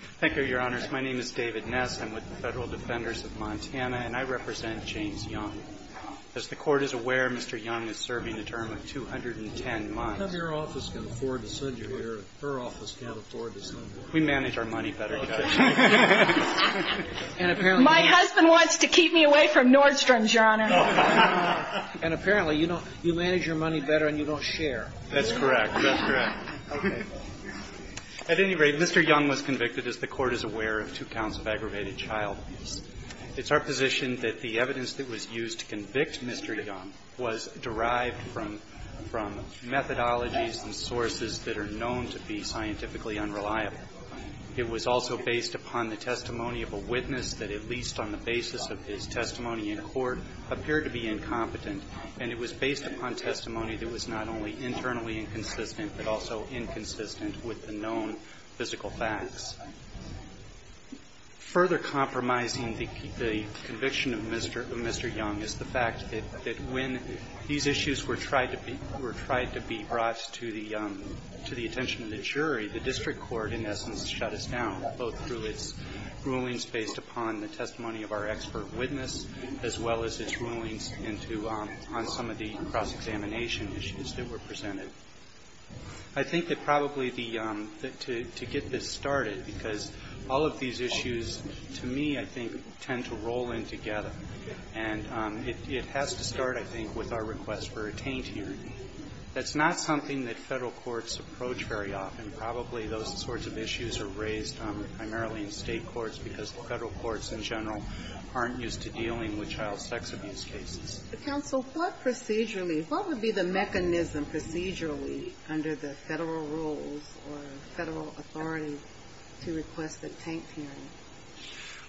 Thank you, Your Honors. My name is David Ness. I'm with the Federal Defenders of Montana, and I represent James Young. As the Court is aware, Mr. Young is serving a term of 210 months. None of your office can afford to send you here. Her office can't afford to send you here. We manage our money better together. My husband wants to keep me away from Nordstrom's, Your Honor. And apparently, you know, you manage your money better and you don't share. That's correct. That's correct. At any rate, Mr. Young was convicted, as the Court is aware, of two counts of aggravated child abuse. It's our position that the evidence that was used to convict Mr. Young was derived from methodologies and sources that are known to be scientifically unreliable. It was also based upon the testimony of a witness that, at least on the basis of his testimony in court, appeared to be incompetent. And it was based upon testimony that was not only internally inconsistent, but also inconsistent with the known physical facts. Further compromising the conviction of Mr. Young is the fact that when these issues were tried to be brought to the attention of the jury, the district court, in essence, shut us down, both through its rulings based upon the testimony of our expert witness, as well as its rulings into on some of the cross-examination issues that were presented. I think that probably the to get this started, because all of these issues, to me, I think, tend to roll in together. And it has to start, I think, with our request for a taint hearing. That's not something that Federal courts approach very often. Probably those sorts of issues are raised primarily in State courts, because Federal courts, in general, aren't used to dealing with child sex abuse cases. Ginsburg. Counsel, what procedurally, what would be the mechanism procedurally under the Federal rules or Federal authority to request a taint hearing?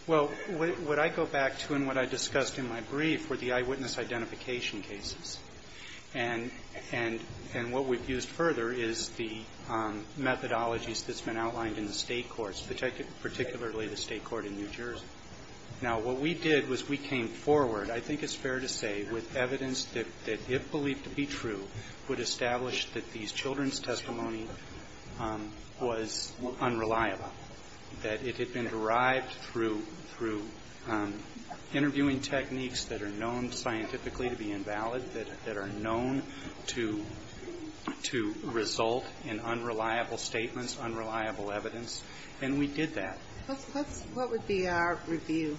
Well, what I go back to and what I discussed in my brief were the eyewitness identification cases. And what we've used further is the methodologies that's been outlined in the State Court in New Jersey. Now, what we did was we came forward, I think it's fair to say, with evidence that if believed to be true, would establish that these children's testimony was unreliable, that it had been derived through interviewing techniques that are known scientifically to be invalid, that are known to result in unreliable statements, unreliable evidence. And we did that. What would be our review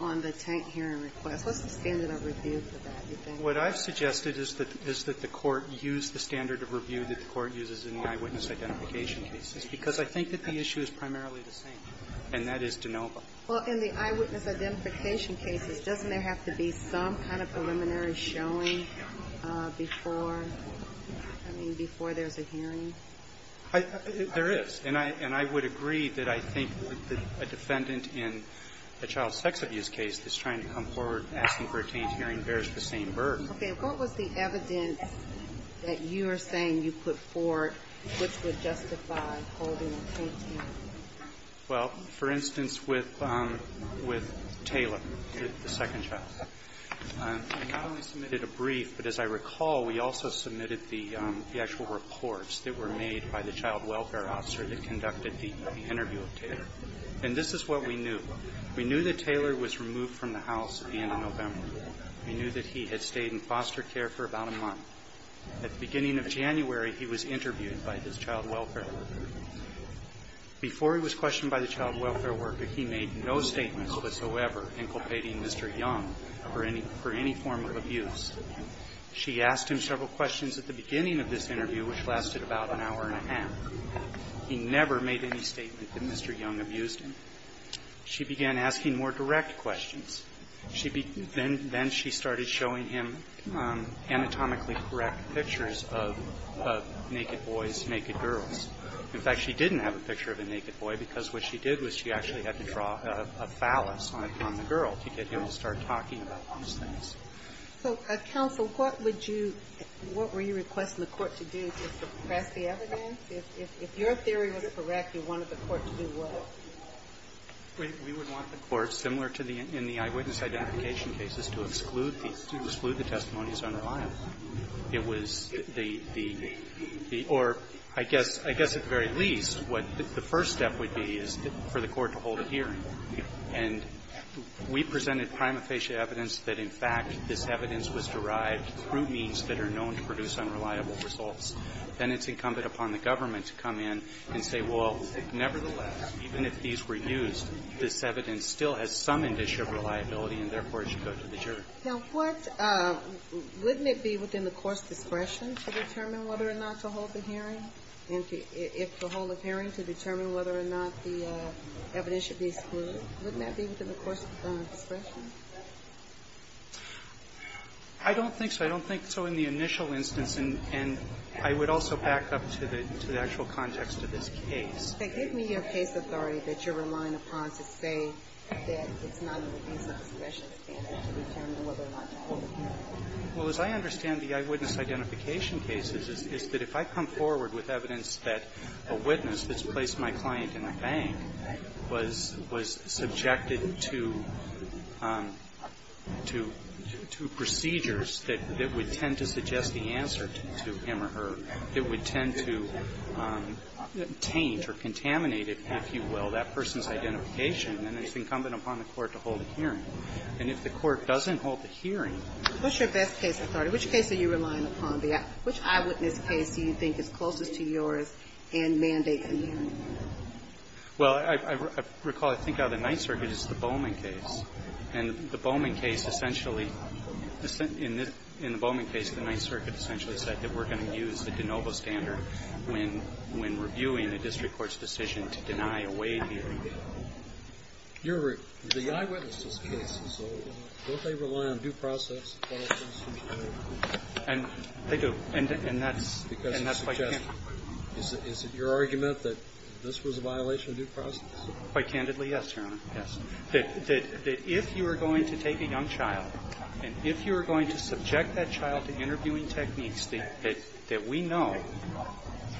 on the taint hearing request? What's the standard of review for that, do you think? What I've suggested is that the Court use the standard of review that the Court uses in the eyewitness identification cases, because I think that the issue is primarily the same, and that is de novo. Well, in the eyewitness identification cases, doesn't there have to be some kind of preliminary showing before, I mean, before there's a hearing? There is. And I would agree that I think that a defendant in a child sex abuse case that's trying to come forward asking for a taint hearing bears the same burden. Okay. What was the evidence that you are saying you put forward which would justify holding a taint hearing? Well, for instance, with Taylor, the second child. We not only submitted a brief, but as I recall, we also submitted the actual reports that were made by the child welfare officer that conducted the interview of Taylor. And this is what we knew. We knew that Taylor was removed from the house at the end of November. We knew that he had stayed in foster care for about a month. At the beginning of January, he was interviewed by his child welfare worker. Before he was questioned by the child welfare worker, he made no statements whatsoever inculpating Mr. Young for any form of abuse. She asked him several questions at the beginning of this interview, which lasted about an hour and a half. He never made any statement that Mr. Young abused him. She began asking more direct questions. Then she started showing him anatomically correct pictures of naked boys, naked girls. In fact, she didn't have a picture of a naked boy because what she did was she actually had to draw a phallus on the girl to get him to start talking about those things. So, counsel, what would you – what were you requesting the court to do just to press the evidence? If your theory was correct, you wanted the court to do what? We would want the court, similar to the – in the eyewitness identification cases, to exclude the – to exclude the testimony as unreliable. It was the – or I guess at the very least, what the first step would be is for the hearing. And we presented prima facie evidence that, in fact, this evidence was derived through means that are known to produce unreliable results. Then it's incumbent upon the government to come in and say, well, nevertheless, even if these were used, this evidence still has some indiction of reliability and, therefore, it should go to the jury. Now, what – wouldn't it be within the court's discretion to determine whether or not to hold the hearing? And if to hold the hearing, to determine whether or not the evidence should be excluded, wouldn't that be within the court's discretion? I don't think so. I don't think so in the initial instance. And I would also back up to the actual context of this case. Then give me your case authority that you're relying upon to say that it's not in the case of discretion to determine whether or not to hold the hearing. Well, as I understand the eyewitness identification cases, is that if I come forward with evidence that a witness that's placed my client in a bank was subjected to procedures that would tend to suggest the answer to him or her, it would tend to taint or contaminate, if you will, that person's identification. And it's incumbent upon the court to hold the hearing. And if the court doesn't hold the hearing – What's your best case authority? Which case are you relying upon? Which eyewitness case do you think is closest to yours and mandates a hearing? Well, I recall, I think out of the Ninth Circuit, it's the Bowman case. And the Bowman case essentially – in the Bowman case, the Ninth Circuit essentially said that we're going to use the de novo standard when reviewing a district court's decision to deny a Wade hearing. Your – the eyewitnesses' cases, don't they rely on due process? And they do. And that's quite candid. Is it your argument that this was a violation of due process? Quite candidly, yes, Your Honor, yes. That if you are going to take a young child, and if you are going to subject that child to interviewing techniques that we know,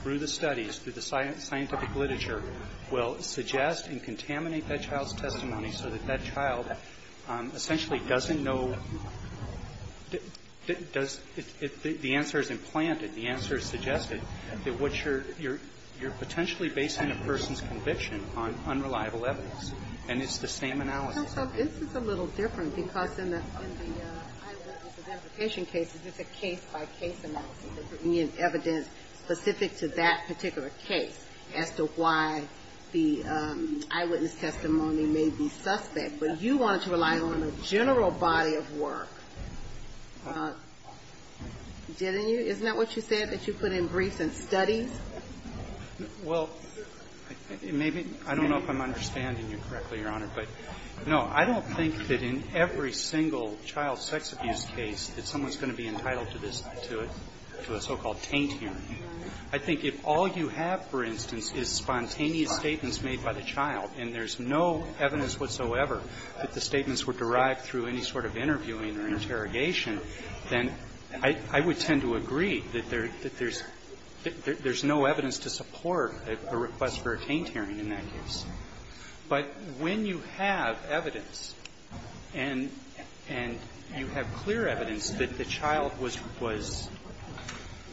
through the studies, through the scientific literature, will suggest and contaminate that child's testimony so that that child essentially doesn't know – does – if the answer is implanted, the answer is suggested, that what you're – you're potentially basing a person's conviction on unreliable evidence. And it's the same analysis. Counsel, this is a little different, because in the eyewitnesses' amputation cases, it's a case-by-case analysis. We need evidence specific to that particular case as to why the eyewitness testimony may be suspect. But you wanted to rely on a general body of work, didn't you? Isn't that what you said, that you put in briefs and studies? Well, maybe – I don't know if I'm understanding you correctly, Your Honor. But no, I don't think that in every single child sex abuse case that someone's going to be entitled to this – to a so-called taint hearing. I think if all you have, for instance, is spontaneous statements made by the child, and there's no evidence whatsoever that the statements were derived through any sort of interviewing or interrogation, then I – I would tend to agree that there – that there's – there's no evidence to support a request for a taint hearing in that case. But when you have evidence and – and you have clear evidence that the child was – was –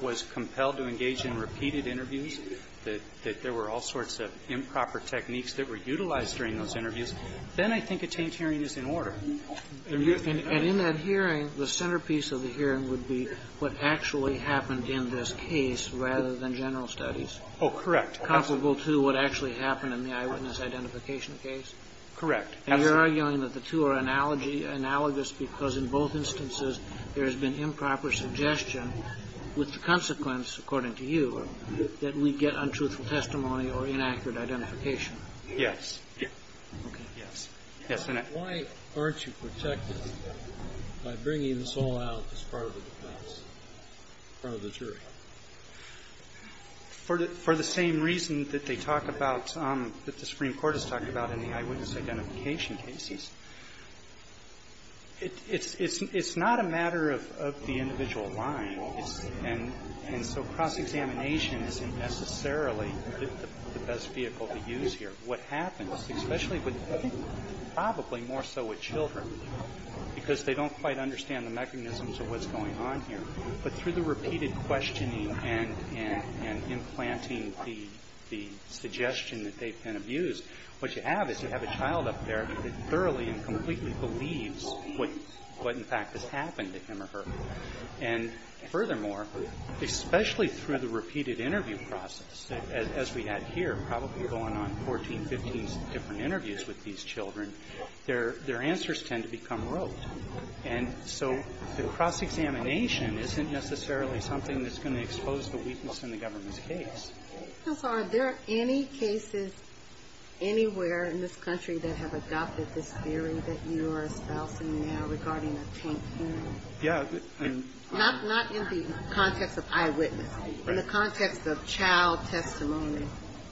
was compelled to engage in repeated interviews, that there were all sorts of improper techniques that were utilized during those interviews, then I think a taint hearing is in order. And in that hearing, the centerpiece of the hearing would be what actually happened in this case rather than general studies? Oh, correct. Comparable to what actually happened in the eyewitness identification case? Correct. And you're arguing that the two are analogy – analogous because in both instances there has been improper suggestion, with the consequence, according to you, that we get untruthful testimony or inaccurate identification? Yes. Okay. Yes. Yes, and I – Why aren't you protected by bringing this all out as part of the defense, part of the jury? For the – for the same reason that they talk about – that the Supreme Court has talked about in the eyewitness identification cases, it's – it's not a matter of the individual line. And so cross-examination isn't necessarily the best vehicle to use here. What happens, especially with – I think probably more so with children, because they don't quite understand the mechanisms of what's going on here, but through the repeated questioning and implanting the suggestion that they've been abused, what you have is you have a child up there that thoroughly and completely believes what, in fact, has happened to him or her. And furthermore, especially through the repeated interview process, as we had here, probably going on 14, 15 different interviews with these children, their answers tend to become rote. And so the cross-examination isn't necessarily something that's going to expose the weakness in the government's case. Counsel, are there any cases anywhere in this country that have adopted this theory that you are espousing now regarding a tank hearing? Yeah. Not in the context of eyewitnesses. In the context of child testimony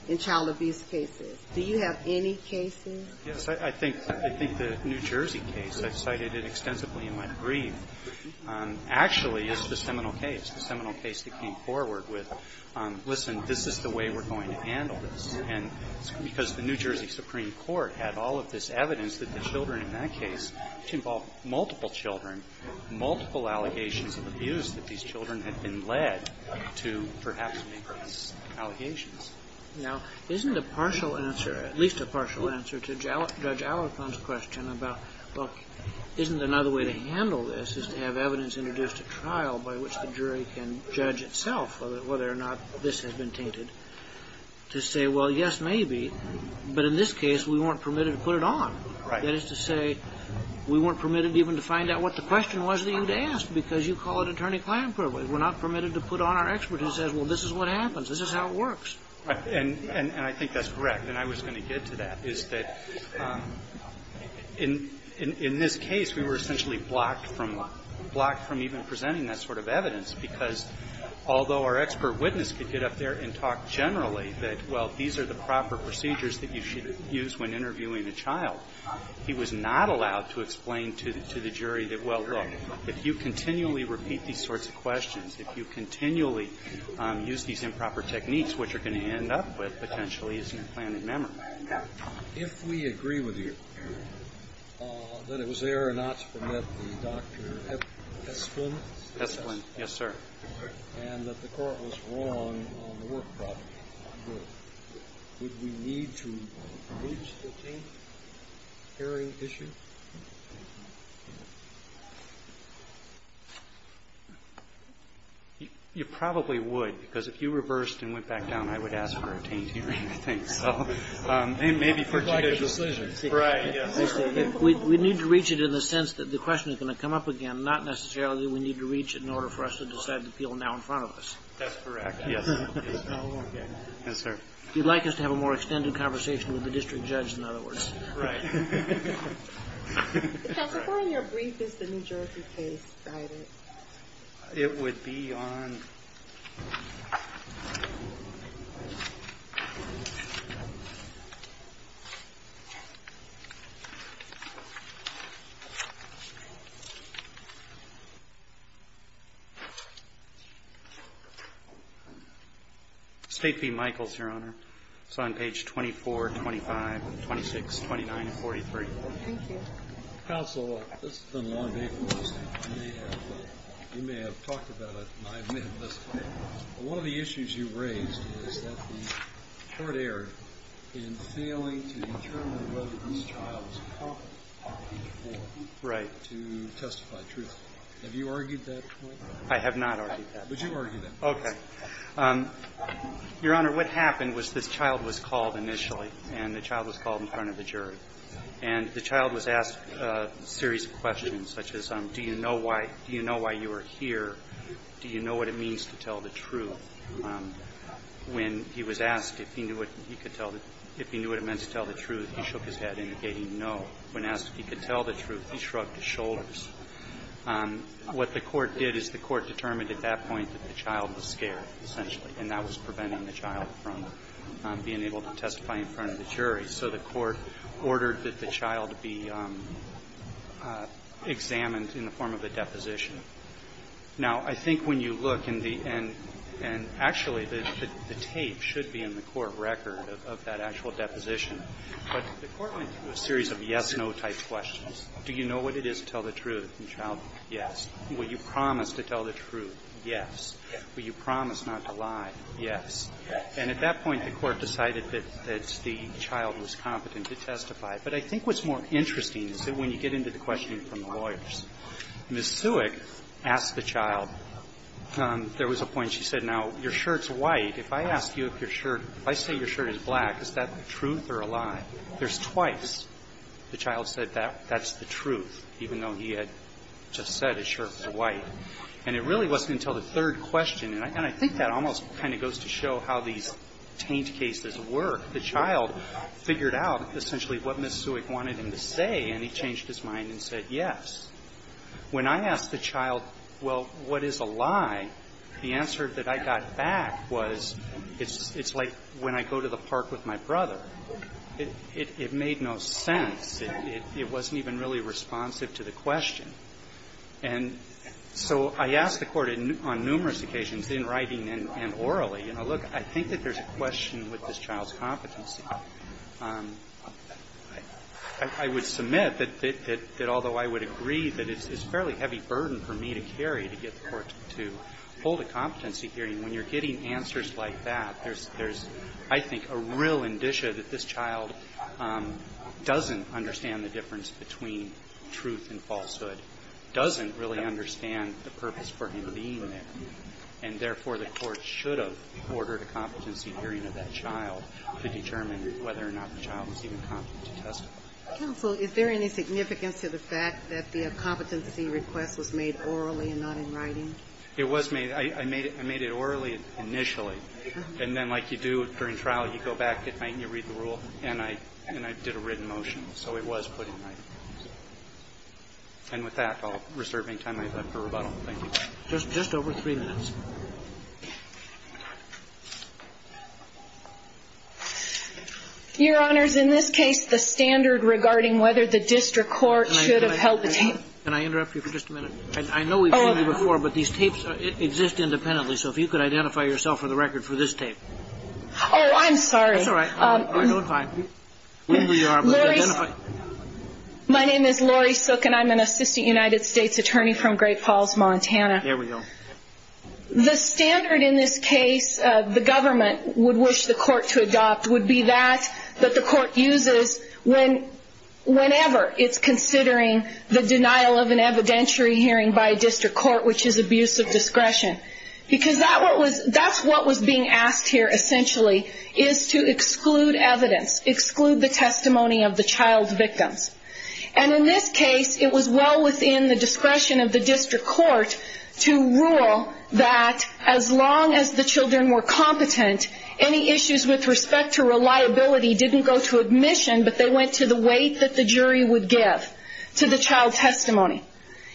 in child abuse cases. Do you have any cases? Yes. I think the New Jersey case, I've cited it extensively in my brief, actually is the seminal case, the seminal case that came forward with, listen, this is the way we're going to handle this. And because the New Jersey Supreme Court had all of this evidence that the children in that case involved multiple children, multiple allegations of abuse that these children had been led to perhaps make those allegations. Now, isn't a partial answer, at least a partial answer to Judge Allerton's question about, look, isn't another way to handle this is to have evidence introduced at trial by which the jury can judge itself whether or not this has been tainted, to say, well, yes, maybe, but in this case we weren't permitted to put it on. That is to say we weren't permitted even to find out what the question was that you'd asked because you call it attorney-client privilege. We're not permitted to put on our expert who says, well, this is what happens. This is how it works. Right. And I think that's correct. And I was going to get to that, is that in this case we were essentially blocked from even presenting that sort of evidence because although our expert witness could get up there and talk generally that, well, these are the proper ways of interviewing a child, he was not allowed to explain to the jury that, well, look, if you continually repeat these sorts of questions, if you continually use these improper techniques, what you're going to end up with potentially is an implanted memory. If we agree with you that it was error not to permit the Dr. Hespelin. Hespelin. Yes, sir. You probably would because if you reversed and went back down, I would ask for a taint hearing, I think, so maybe for a taint hearing. It's like a decision. Right. Yes. We need to reach it in the sense that the question is going to come up again, not necessarily that we need to reach it in order for us to decide whether it's a taint hearing. That's correct. Yes. Okay. Yes, sir. You'd like us to have a more extended conversation with the district judge, in other words. Right. Counsel, why in your brief is the New Jersey case cited? It would be on... State v. Michaels, Your Honor. It's on page 24, 25, 26, 29, and 43. Thank you. Counsel, this has been a long day for us. You may have talked about it and I may have missed it. One of the issues you raised is that the court erred in failing to determine whether this child was competent to testify truthfully. Have you argued that point? I have not argued that point. But you argued that point. Okay. Your Honor, what happened was this child was called initially, and the child was called in front of the jury. And the child was asked a series of questions such as, do you know why you are here? Do you know what it means to tell the truth? When he was asked if he knew what it meant to tell the truth, he shook his head indicating no. When asked if he could tell the truth, he shrugged his shoulders. What the court did is the court determined at that point that the child was scared. Essentially. And that was preventing the child from being able to testify in front of the jury. So the court ordered that the child be examined in the form of a deposition. Now, I think when you look in the end, and actually the tape should be in the court record of that actual deposition. But the court went through a series of yes-no type questions. Do you know what it is to tell the truth? The child, yes. Will you promise to tell the truth? Yes. Will you promise not to lie? Yes. And at that point, the court decided that the child was competent to testify. But I think what's more interesting is that when you get into the questioning from the lawyers, Ms. Sewick asked the child, there was a point she said, now, your shirt's white. If I ask you if your shirt, if I say your shirt is black, is that the truth or a lie? There's twice the child said that that's the truth, even though he had just said his shirt was white. And it really wasn't until the third question, and I think that almost kind of goes to show how these taint cases work. The child figured out essentially what Ms. Sewick wanted him to say, and he changed his mind and said yes. When I asked the child, well, what is a lie, the answer that I got back was, it's like when I go to the park with my brother. It made no sense. It wasn't even really responsive to the question. And so I asked the Court on numerous occasions, in writing and orally, you know, look, I think that there's a question with this child's competency. I would submit that although I would agree that it's a fairly heavy burden for me to carry to get the Court to hold a competency hearing, when you're getting answers like that, there's, I think, a real indicia that this child doesn't understand the difference between truth and falsehood, doesn't really understand the purpose for him being there. And therefore, the Court should have ordered a competency hearing of that child to determine whether or not the child was even competent to testify. Counsel, is there any significance to the fact that the competency request was made orally and not in writing? It was made. I made it orally initially. And then like you do during trial, you go back, you read the rule, and I did a written motion. So it was put in writing. And with that, I'll reserve any time I have left for rebuttal. Thank you. Just over three minutes. Your Honors, in this case, the standard regarding whether the district court should have held the tape. Can I interrupt you for just a minute? I know we've seen you before, but these tapes exist independently. So if you could identify yourself for the record for this tape. Oh, I'm sorry. That's all right. I don't mind. My name is Lori Sook, and I'm an assistant United States attorney from Great Falls, Montana. There we go. The standard in this case the government would wish the court to adopt would be that that the court uses whenever it's considering the denial of an evidentiary hearing by a district court, which is abuse of discretion. Because that's what was being asked here, essentially, is to exclude evidence. Exclude the testimony of the child victims. And in this case, it was well within the discretion of the district court to rule that as long as the children were competent, any issues with respect to reliability didn't go to admission, but they went to the weight that the jury would give to the child testimony.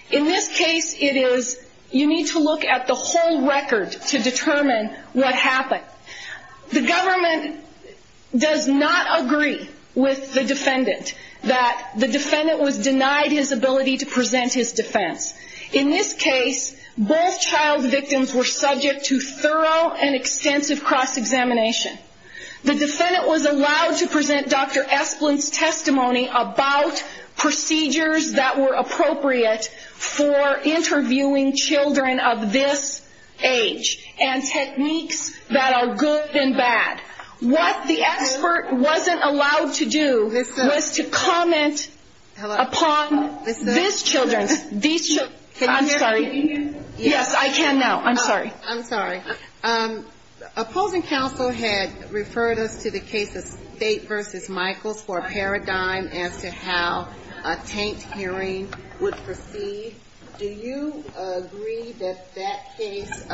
In this case, it is you need to look at the whole record to determine what happened. The government does not agree with the defendant that the defendant was denied his ability to present his defense. In this case, both child victims were subject to thorough and extensive cross-examination. The defendant was allowed to present Dr. Esplin's testimony about procedures that were appropriate for interviewing children of this age and techniques that are good and bad. What the expert wasn't allowed to do was to comment upon these children. I'm sorry. Yes, I can now. I'm sorry. I'm sorry. Opposing counsel had referred us to the case of State v. Michaels for a paradigm as to how a taint hearing would proceed. Do you agree that that case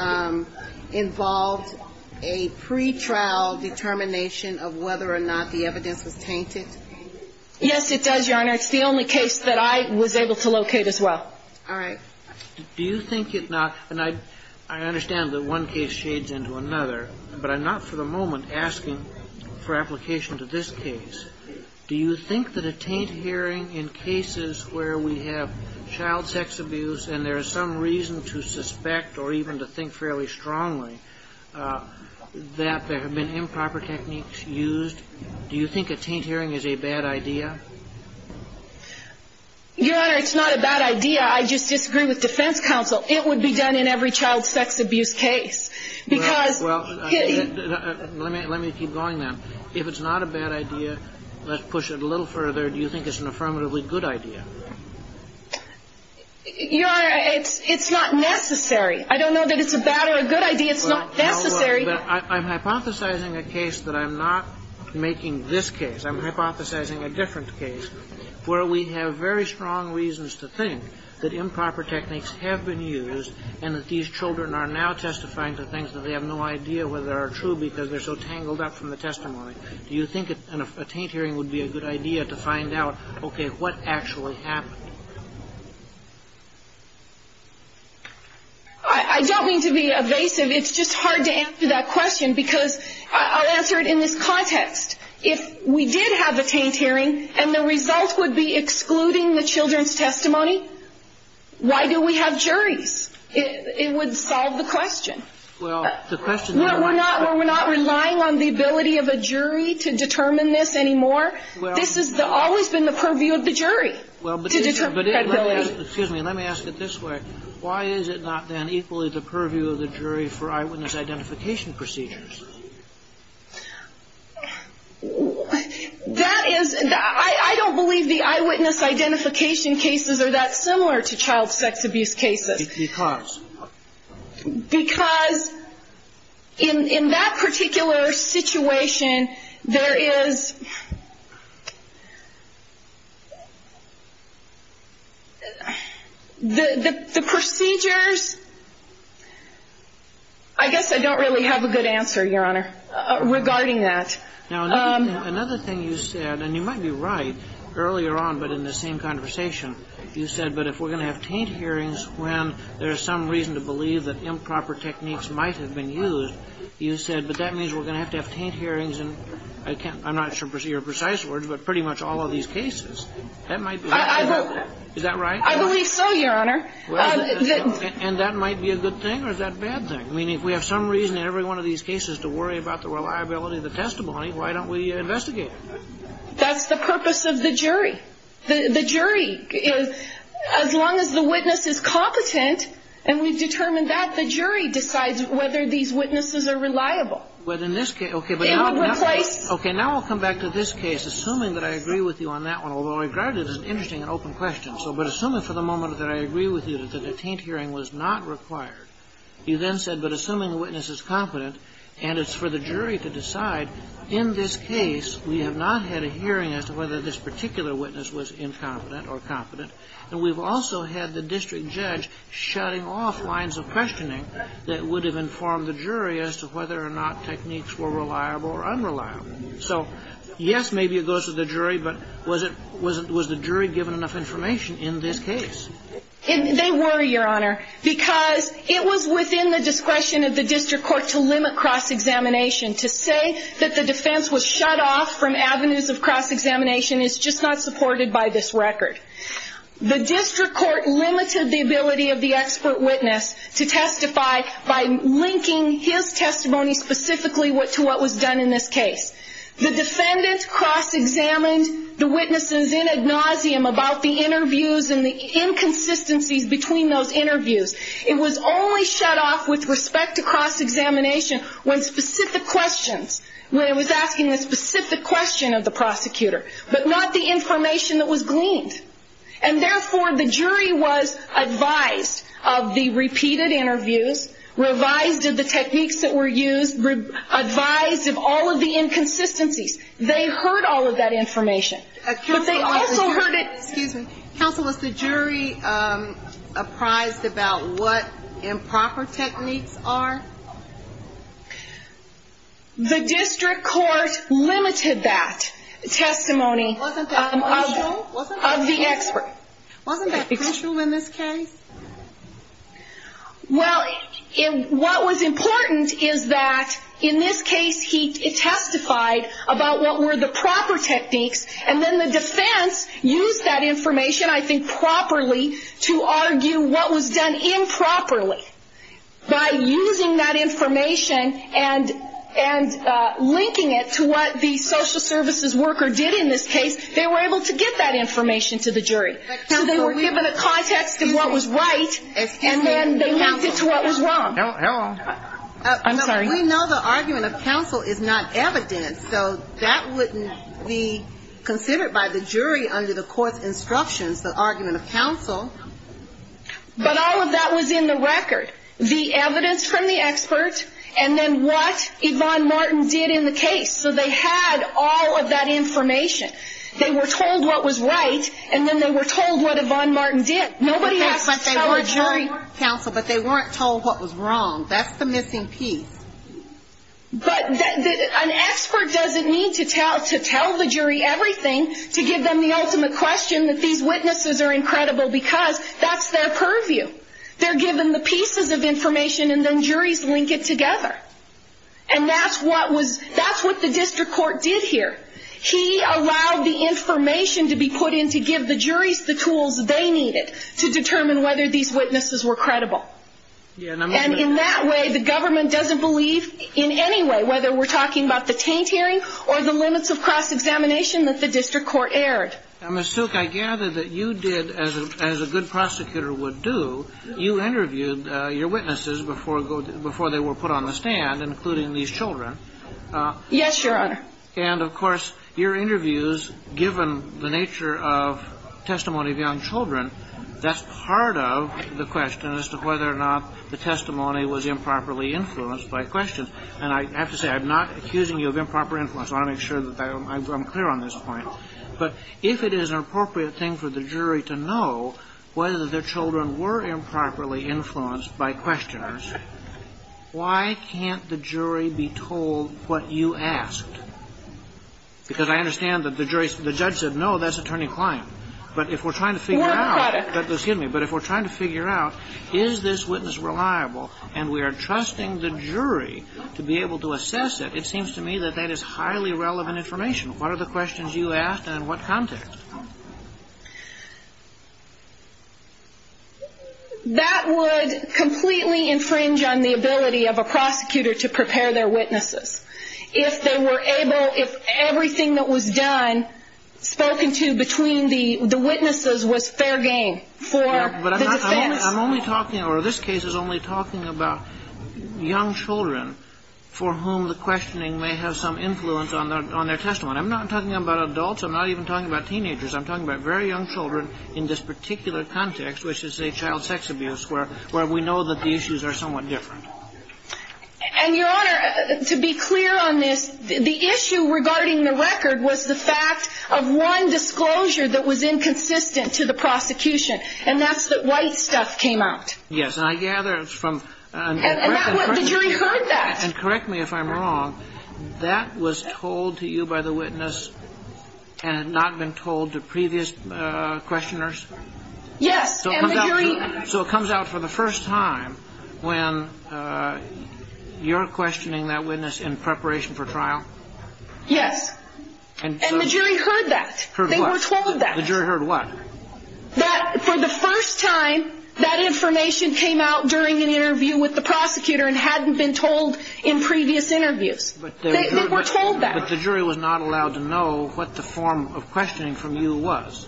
involved a pretrial determination of whether or not the evidence was tainted? Yes, it does, Your Honor. It's the only case that I was able to locate as well. All right. Do you think it not? And I understand that one case shades into another, but I'm not for the moment asking for application to this case. Do you think that a taint hearing in cases where we have child sex abuse and there is some reason to suspect or even to think fairly strongly that there have been improper techniques used, do you think a taint hearing is a bad idea? Your Honor, it's not a bad idea. I just disagree with defense counsel. It would be done in every child sex abuse case, because — Well, let me keep going then. If it's not a bad idea, let's push it a little further. Do you think it's an affirmatively good idea? Your Honor, it's not necessary. I don't know that it's a bad or a good idea. It's not necessary. Well, I'm hypothesizing a case that I'm not making this case. I'm hypothesizing a different case where we have very strong reasons to think that improper techniques have been used and that these children are now testifying to things that they have no idea whether are true because they're so tangled up from the testimony. Do you think a taint hearing would be a good idea to find out, okay, what actually happened? I don't mean to be evasive. It's just hard to answer that question, because I'll answer it in this context. If we did have a taint hearing and the result would be excluding the children's testimony, why do we have juries? It would solve the question. Well, the question there might solve it. We're not relying on the ability of a jury to determine this anymore. This has always been the purview of the jury to determine credibility. Well, but let me ask it this way. Why is it not then equally the purview of the jury for eyewitness identification procedures? I don't believe the eyewitness identification cases are that similar to child sex abuse cases. Because? Because in that particular situation, there is the procedures. I guess I don't really have a good answer, Your Honor, regarding that. Now, another thing you said, and you might be right, earlier on but in the same conversation, you said, but if we're going to have taint hearings when there is some reason to believe that improper techniques might have been used, you said, but that means we're going to have to have taint hearings in, I'm not sure if these are precise words, but pretty much all of these cases. Is that right? I believe so, Your Honor. And that might be a good thing or is that a bad thing? I mean, if we have some reason in every one of these cases to worry about the reliability of the testimony, why don't we investigate it? That's the purpose of the jury. The jury, as long as the witness is competent and we've determined that, the jury decides whether these witnesses are reliable. Well, in this case, okay. It would replace. Okay. Now I'll come back to this case, assuming that I agree with you on that one, although I regard it as an interesting and open question. But assuming for the moment that I agree with you that a taint hearing was not required, you then said, but assuming the witness is competent and it's for the jury to decide, in this case, we have not had a hearing as to whether this particular witness was incompetent or competent, and we've also had the district judge shutting off lines of questioning that would have informed the jury as to whether or not techniques were reliable or unreliable. So, yes, maybe it goes to the jury, but was the jury given enough information in this case? They were, Your Honor, because it was within the discretion of the district court to limit cross-examination, to say that the defense was shut off from avenues of cross-examination is just not supported by this record. The district court limited the ability of the expert witness to testify by linking his testimony specifically to what was done in this case. The defendant cross-examined the witnesses in ad nauseum about the interviews and the inconsistencies between those interviews. It was only shut off with respect to cross-examination when specific questions, when it was asking a specific question of the prosecutor, but not the information that was gleaned. And, therefore, the jury was advised of the repeated interviews, revised of the techniques that were used, advised of all of the inconsistencies. They heard all of that information. Excuse me. Counsel, was the jury apprised about what improper techniques are? The district court limited that testimony of the expert. Wasn't that crucial in this case? Well, what was important is that, in this case, he testified about what were the proper techniques and then the defense used that information, I think properly, to argue what was done improperly. By using that information and linking it to what the social services worker did in this case, they were able to get that information to the jury. So they were given a context of what was right and then they linked it to what was wrong. We know the argument of counsel is not evidence, so that wouldn't be considered by the jury under the court's instructions, the argument of counsel. But all of that was in the record. The evidence from the expert and then what Yvonne Martin did in the case. So they had all of that information. They were told what was right and then they were told what Yvonne Martin did. But they weren't told what was wrong. That's the missing piece. But an expert doesn't need to tell the jury everything to give them the ultimate question that these witnesses are incredible because that's their purview. They're given the pieces of information and then juries link it together. And that's what the district court did here. He allowed the information to be put in to give the juries the tools they needed to determine whether these witnesses were credible. And in that way, the government doesn't believe in any way, whether we're talking about the taint hearing or the limits of cross-examination that the district court aired. Ms. Silk, I gather that you did, as a good prosecutor would do, you interviewed your witnesses before they were put on the stand, including these children. Yes, Your Honor. And, of course, your interviews, given the nature of testimony of young children, that's part of the question as to whether or not the testimony was improperly influenced by questions. And I have to say, I'm not accusing you of improper influence. I want to make sure that I'm clear on this point. But if it is an appropriate thing for the jury to know whether their children were improperly influenced by questioners, why can't the jury be told what you asked? Because I understand that the judge said, no, that's attorney Klein. But if we're trying to figure out, is this witness reliable, and we are trusting the jury to be able to assess it, it seems to me that that is highly relevant information. What are the questions you asked, and in what context? That would completely infringe on the ability of a prosecutor to prepare their witnesses. If they were able, if everything that was done, spoken to between the witnesses, was fair game for the defense. Yeah, but I'm only talking, or this case is only talking about young children for whom the questioning may have some influence on their testimony. I'm not talking about adults. I'm not even talking about teenagers. I'm talking about very young children in this particular context, which is a child sex abuse, where we know that the issues are somewhat different. And, Your Honor, to be clear on this, the issue regarding the record was the fact of one disclosure that was inconsistent to the prosecution, and that's that white stuff came out. Yes. And I gather from... And the jury heard that. And correct me if I'm wrong. That was told to you by the witness and had not been told to previous questioners? Yes. So it comes out for the first time when you're questioning that witness in preparation for trial? Yes. And the jury heard that. Heard what? They were told that. The jury heard what? For the first time, that information came out during an interview with the prosecutor and hadn't been told in previous interviews. They were told that. But the jury was not allowed to know what the form of questioning from you was.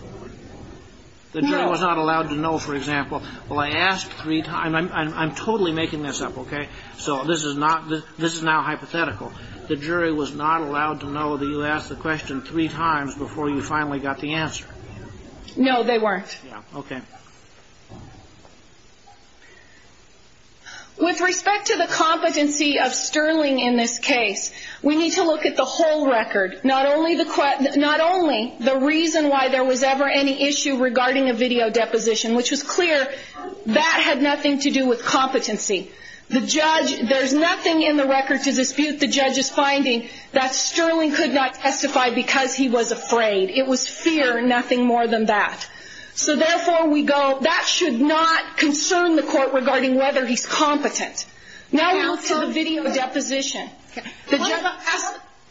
No. The jury was not allowed to know, for example, well, I asked three times. I'm totally making this up, okay? So this is now hypothetical. The jury was not allowed to know that you asked the question three times before you finally got the answer. No, they weren't. Okay. With respect to the competency of Sterling in this case, we need to look at the whole record, not only the reason why there was ever any issue regarding a video deposition, which was clear that had nothing to do with competency. There's nothing in the record to dispute the judge's finding that Sterling could not testify because he was afraid. It was fear, nothing more than that. So therefore, that should not concern the court regarding whether he's competent. Now we move to the video deposition.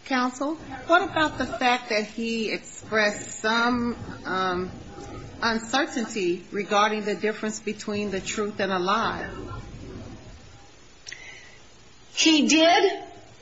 Counsel, what about the fact that he expressed some uncertainty regarding the difference between the truth and a lie? He did,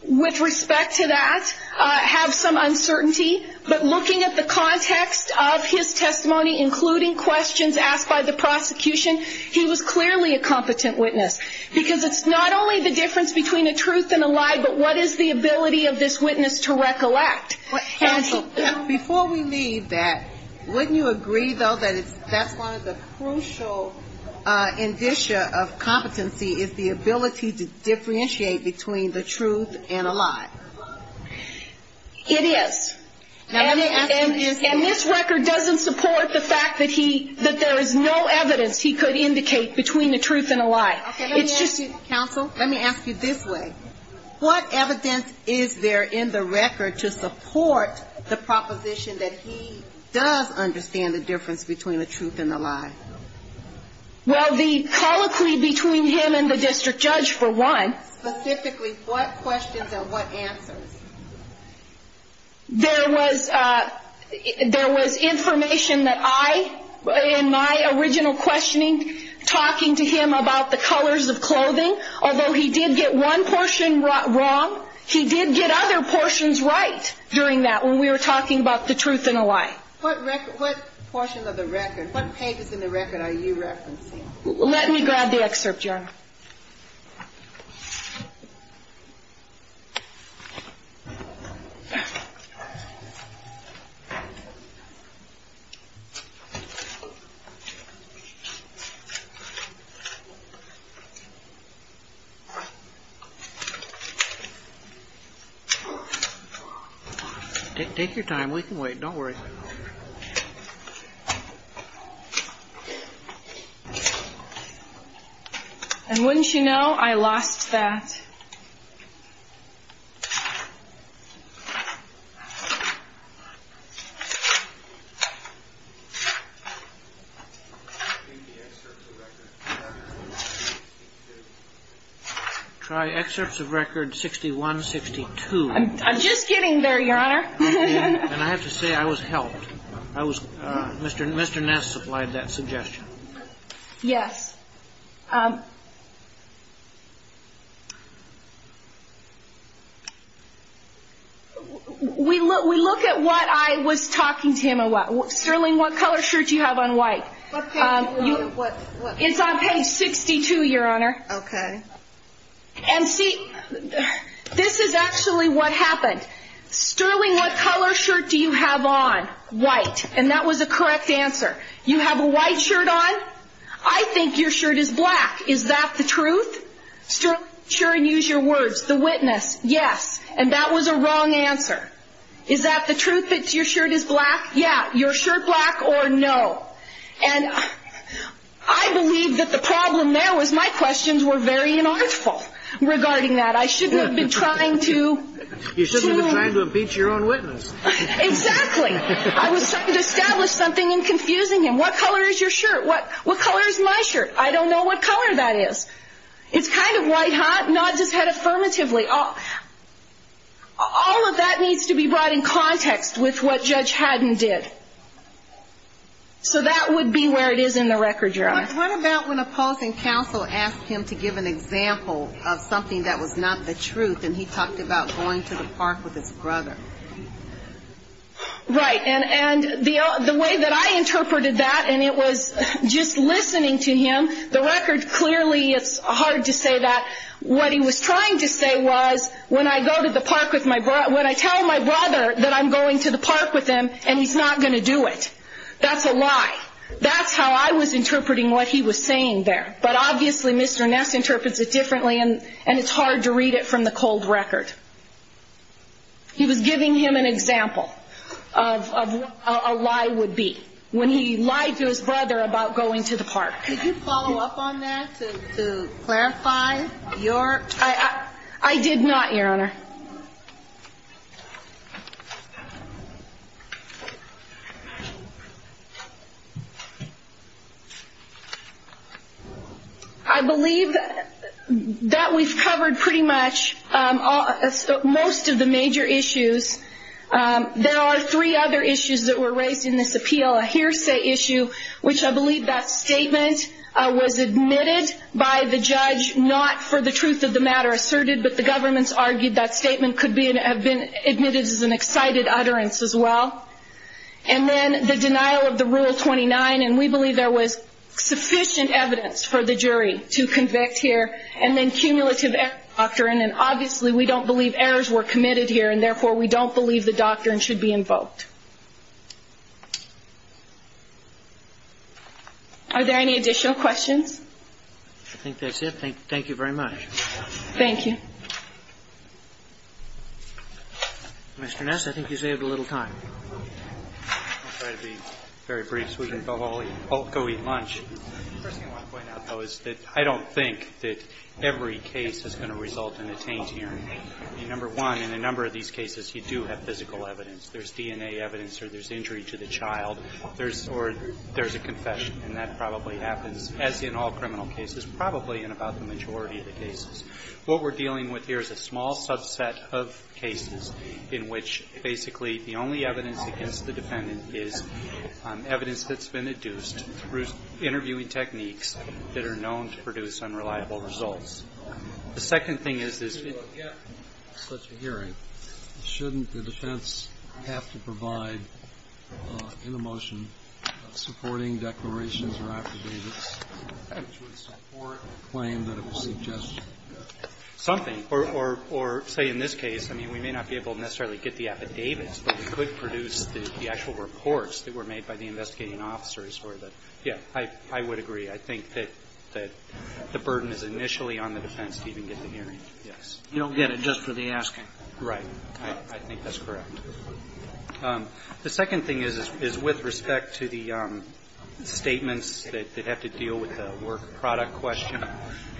with respect to that, have some uncertainty. But looking at the context of his testimony, including questions asked by the prosecution, he was clearly a competent witness because it's not only the difference between a truth and a lie, but what is the ability of this witness to recollect? Counsel, before we leave that, wouldn't you agree, though, that that's one of the crucial indicia of competency is the ability to differentiate between the truth and a lie? It is. And this record doesn't support the fact that he, that there is no evidence he could indicate between the truth and a lie. It's just. Counsel. Let me ask you this way. What evidence is there in the record to support the proposition that he does understand the difference between the truth and a lie? Well, the colloquy between him and the district judge, for one. Specifically, what questions and what answers? There was information that I, in my original questioning, talking to him about the colors of clothing. Although he did get one portion wrong, he did get other portions right during that when we were talking about the truth and a lie. What portion of the record, what pages in the record are you referencing? Let me grab the excerpt, Your Honor. Take your time. We can wait. Don't worry. And wouldn't you know, I lost that. Try excerpts of record sixty one, sixty two. I'm just getting there, Your Honor. And I have to say I was helped. I was Mr. Mr. Ness supplied that suggestion. Yes. We look we look at what I was talking to him about. Sterling, what color shirt do you have on white? It's on page sixty two, Your Honor. OK. And see, this is actually what happened. Sterling, what color shirt do you have on? White. And that was a correct answer. You have a white shirt on. I think your shirt is black. Is that the truth? Sterling, use your words. The witness. Yes. And that was a wrong answer. Is that the truth that your shirt is black? Yeah. Your shirt black or no? And I believe that the problem there was my questions were very inartful regarding that. I shouldn't have been trying to. You shouldn't have been trying to impeach your own witness. Exactly. I was trying to establish something in confusing him. What color is your shirt? What what color is my shirt? I don't know what color that is. It's kind of white hot. Not just had affirmatively. All of that needs to be brought in context with what Judge Haddon did. So that would be where it is in the record, Your Honor. What about when a pausing counsel asked him to give an example of something that was not the truth and he talked about going to the park with his brother? Right. And the way that I interpreted that and it was just listening to him, the record clearly it's hard to say that. What he was trying to say was when I go to the park with my brother, when I tell my brother that I'm going to the park with him and he's not going to do it, that's a lie. That's how I was interpreting what he was saying there. But obviously Mr. Ness interprets it differently and it's hard to read it from the cold record. He was giving him an example of what a lie would be when he lied to his brother about going to the park. Did you follow up on that to clarify your? I did not, Your Honor. I believe that we've covered pretty much most of the major issues. There are three other issues that were raised in this appeal, a hearsay issue, which I believe that statement was admitted by the judge not for the truth of the matter asserted but the government's argued that statement could have been admitted as an excited utterance as well. And then the denial of the Rule 29 and we believe there was sufficient evidence for the jury to convict here and then cumulative error doctrine and obviously we don't believe errors were committed here and therefore we don't believe the doctrine should be invoked. Are there any additional questions? I think that's it. Thank you very much. Thank you. Mr. Ness, I think you saved a little time. I'll try to be very brief so we can all go eat lunch. The first thing I want to point out though is that I don't think that every case is going to result in a taint hearing. Number one, in a number of these cases you do have physical evidence. There's DNA evidence or there's injury to the child. There's a confession and that probably happens, as in all criminal cases, probably in about the majority of the cases. What we're dealing with here is a small subset of cases in which basically the only evidence against the defendant is evidence that's been induced through interviewing techniques that are known to produce unreliable results. The second thing is this. Such a hearing. Shouldn't the defense have to provide in a motion supporting declarations or affidavits which would support the claim that it was suggested? Something. Or say in this case, I mean, we may not be able to necessarily get the affidavits, but we could produce the actual reports that were made by the investigating officers or the yeah, I would agree. I think that the burden is initially on the defense to even get the hearing. Yes. You don't get it just for the asking. Right. I think that's correct. The second thing is with respect to the statements that have to deal with the work product question.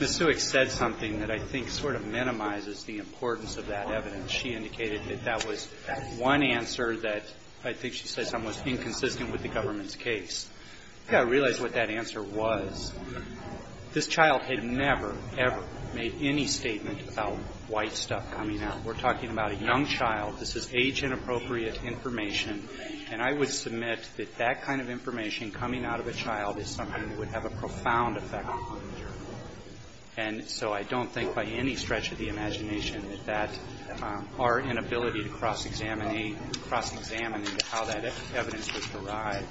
Ms. Sewick said something that I think sort of minimizes the importance of that evidence. She indicated that that was one answer that I think she says was inconsistent with the government's case. I think I realize what that answer was. This child had never, ever made any statement about white stuff coming out. We're talking about a young child. This is age-inappropriate information. And I would submit that that kind of information coming out of a child is something that would have a profound effect on the jury. And so I don't think by any stretch of the imagination that our inability to cross-examine how that evidence was derived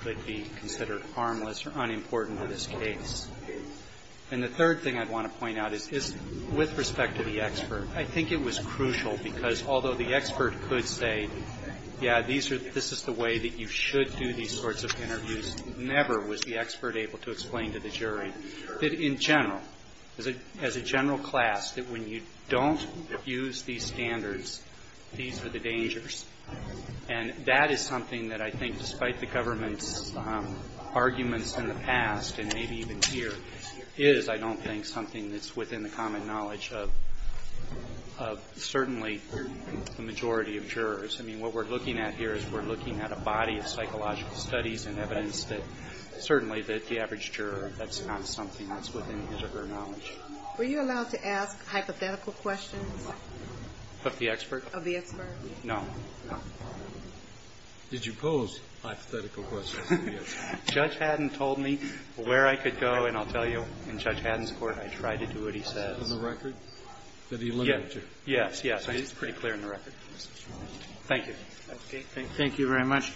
could be considered harmless or unimportant in this case. And the third thing I'd want to point out is with respect to the expert, I think it was crucial because although the expert could say, yeah, this is the way that you should do these sorts of interviews, never was the expert able to explain to the jury that in general, as a general class, that when you don't use these standards, these are the dangers. And that is something that I think, despite the government's arguments in the past and maybe even here, is I don't think something that's within the common knowledge of certainly the majority of jurors. I mean, what we're looking at here is we're looking at a body of psychological studies and evidence that certainly the average juror, that's not something that's within his or her knowledge. Were you allowed to ask hypothetical questions? Of the expert? Of the expert. No. No. Did you pose hypothetical questions to the expert? Judge Haddon told me where I could go. And I'll tell you, in Judge Haddon's court, I tried to do what he says. On the record? Yes. Yes, yes. It's pretty clear on the record. Thank you. Thank you very much.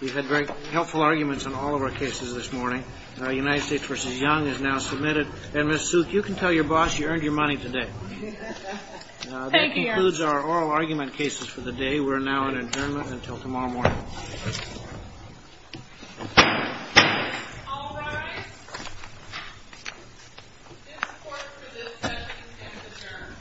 We've had very helpful arguments on all of our cases this morning. United States v. Young is now submitted. And, Ms. Souk, you can tell your boss you earned your money today. Thank you. That concludes our oral argument cases for the day. We're now in adjournment until tomorrow morning. All rise. In support for this session, stand adjourned. Thank you.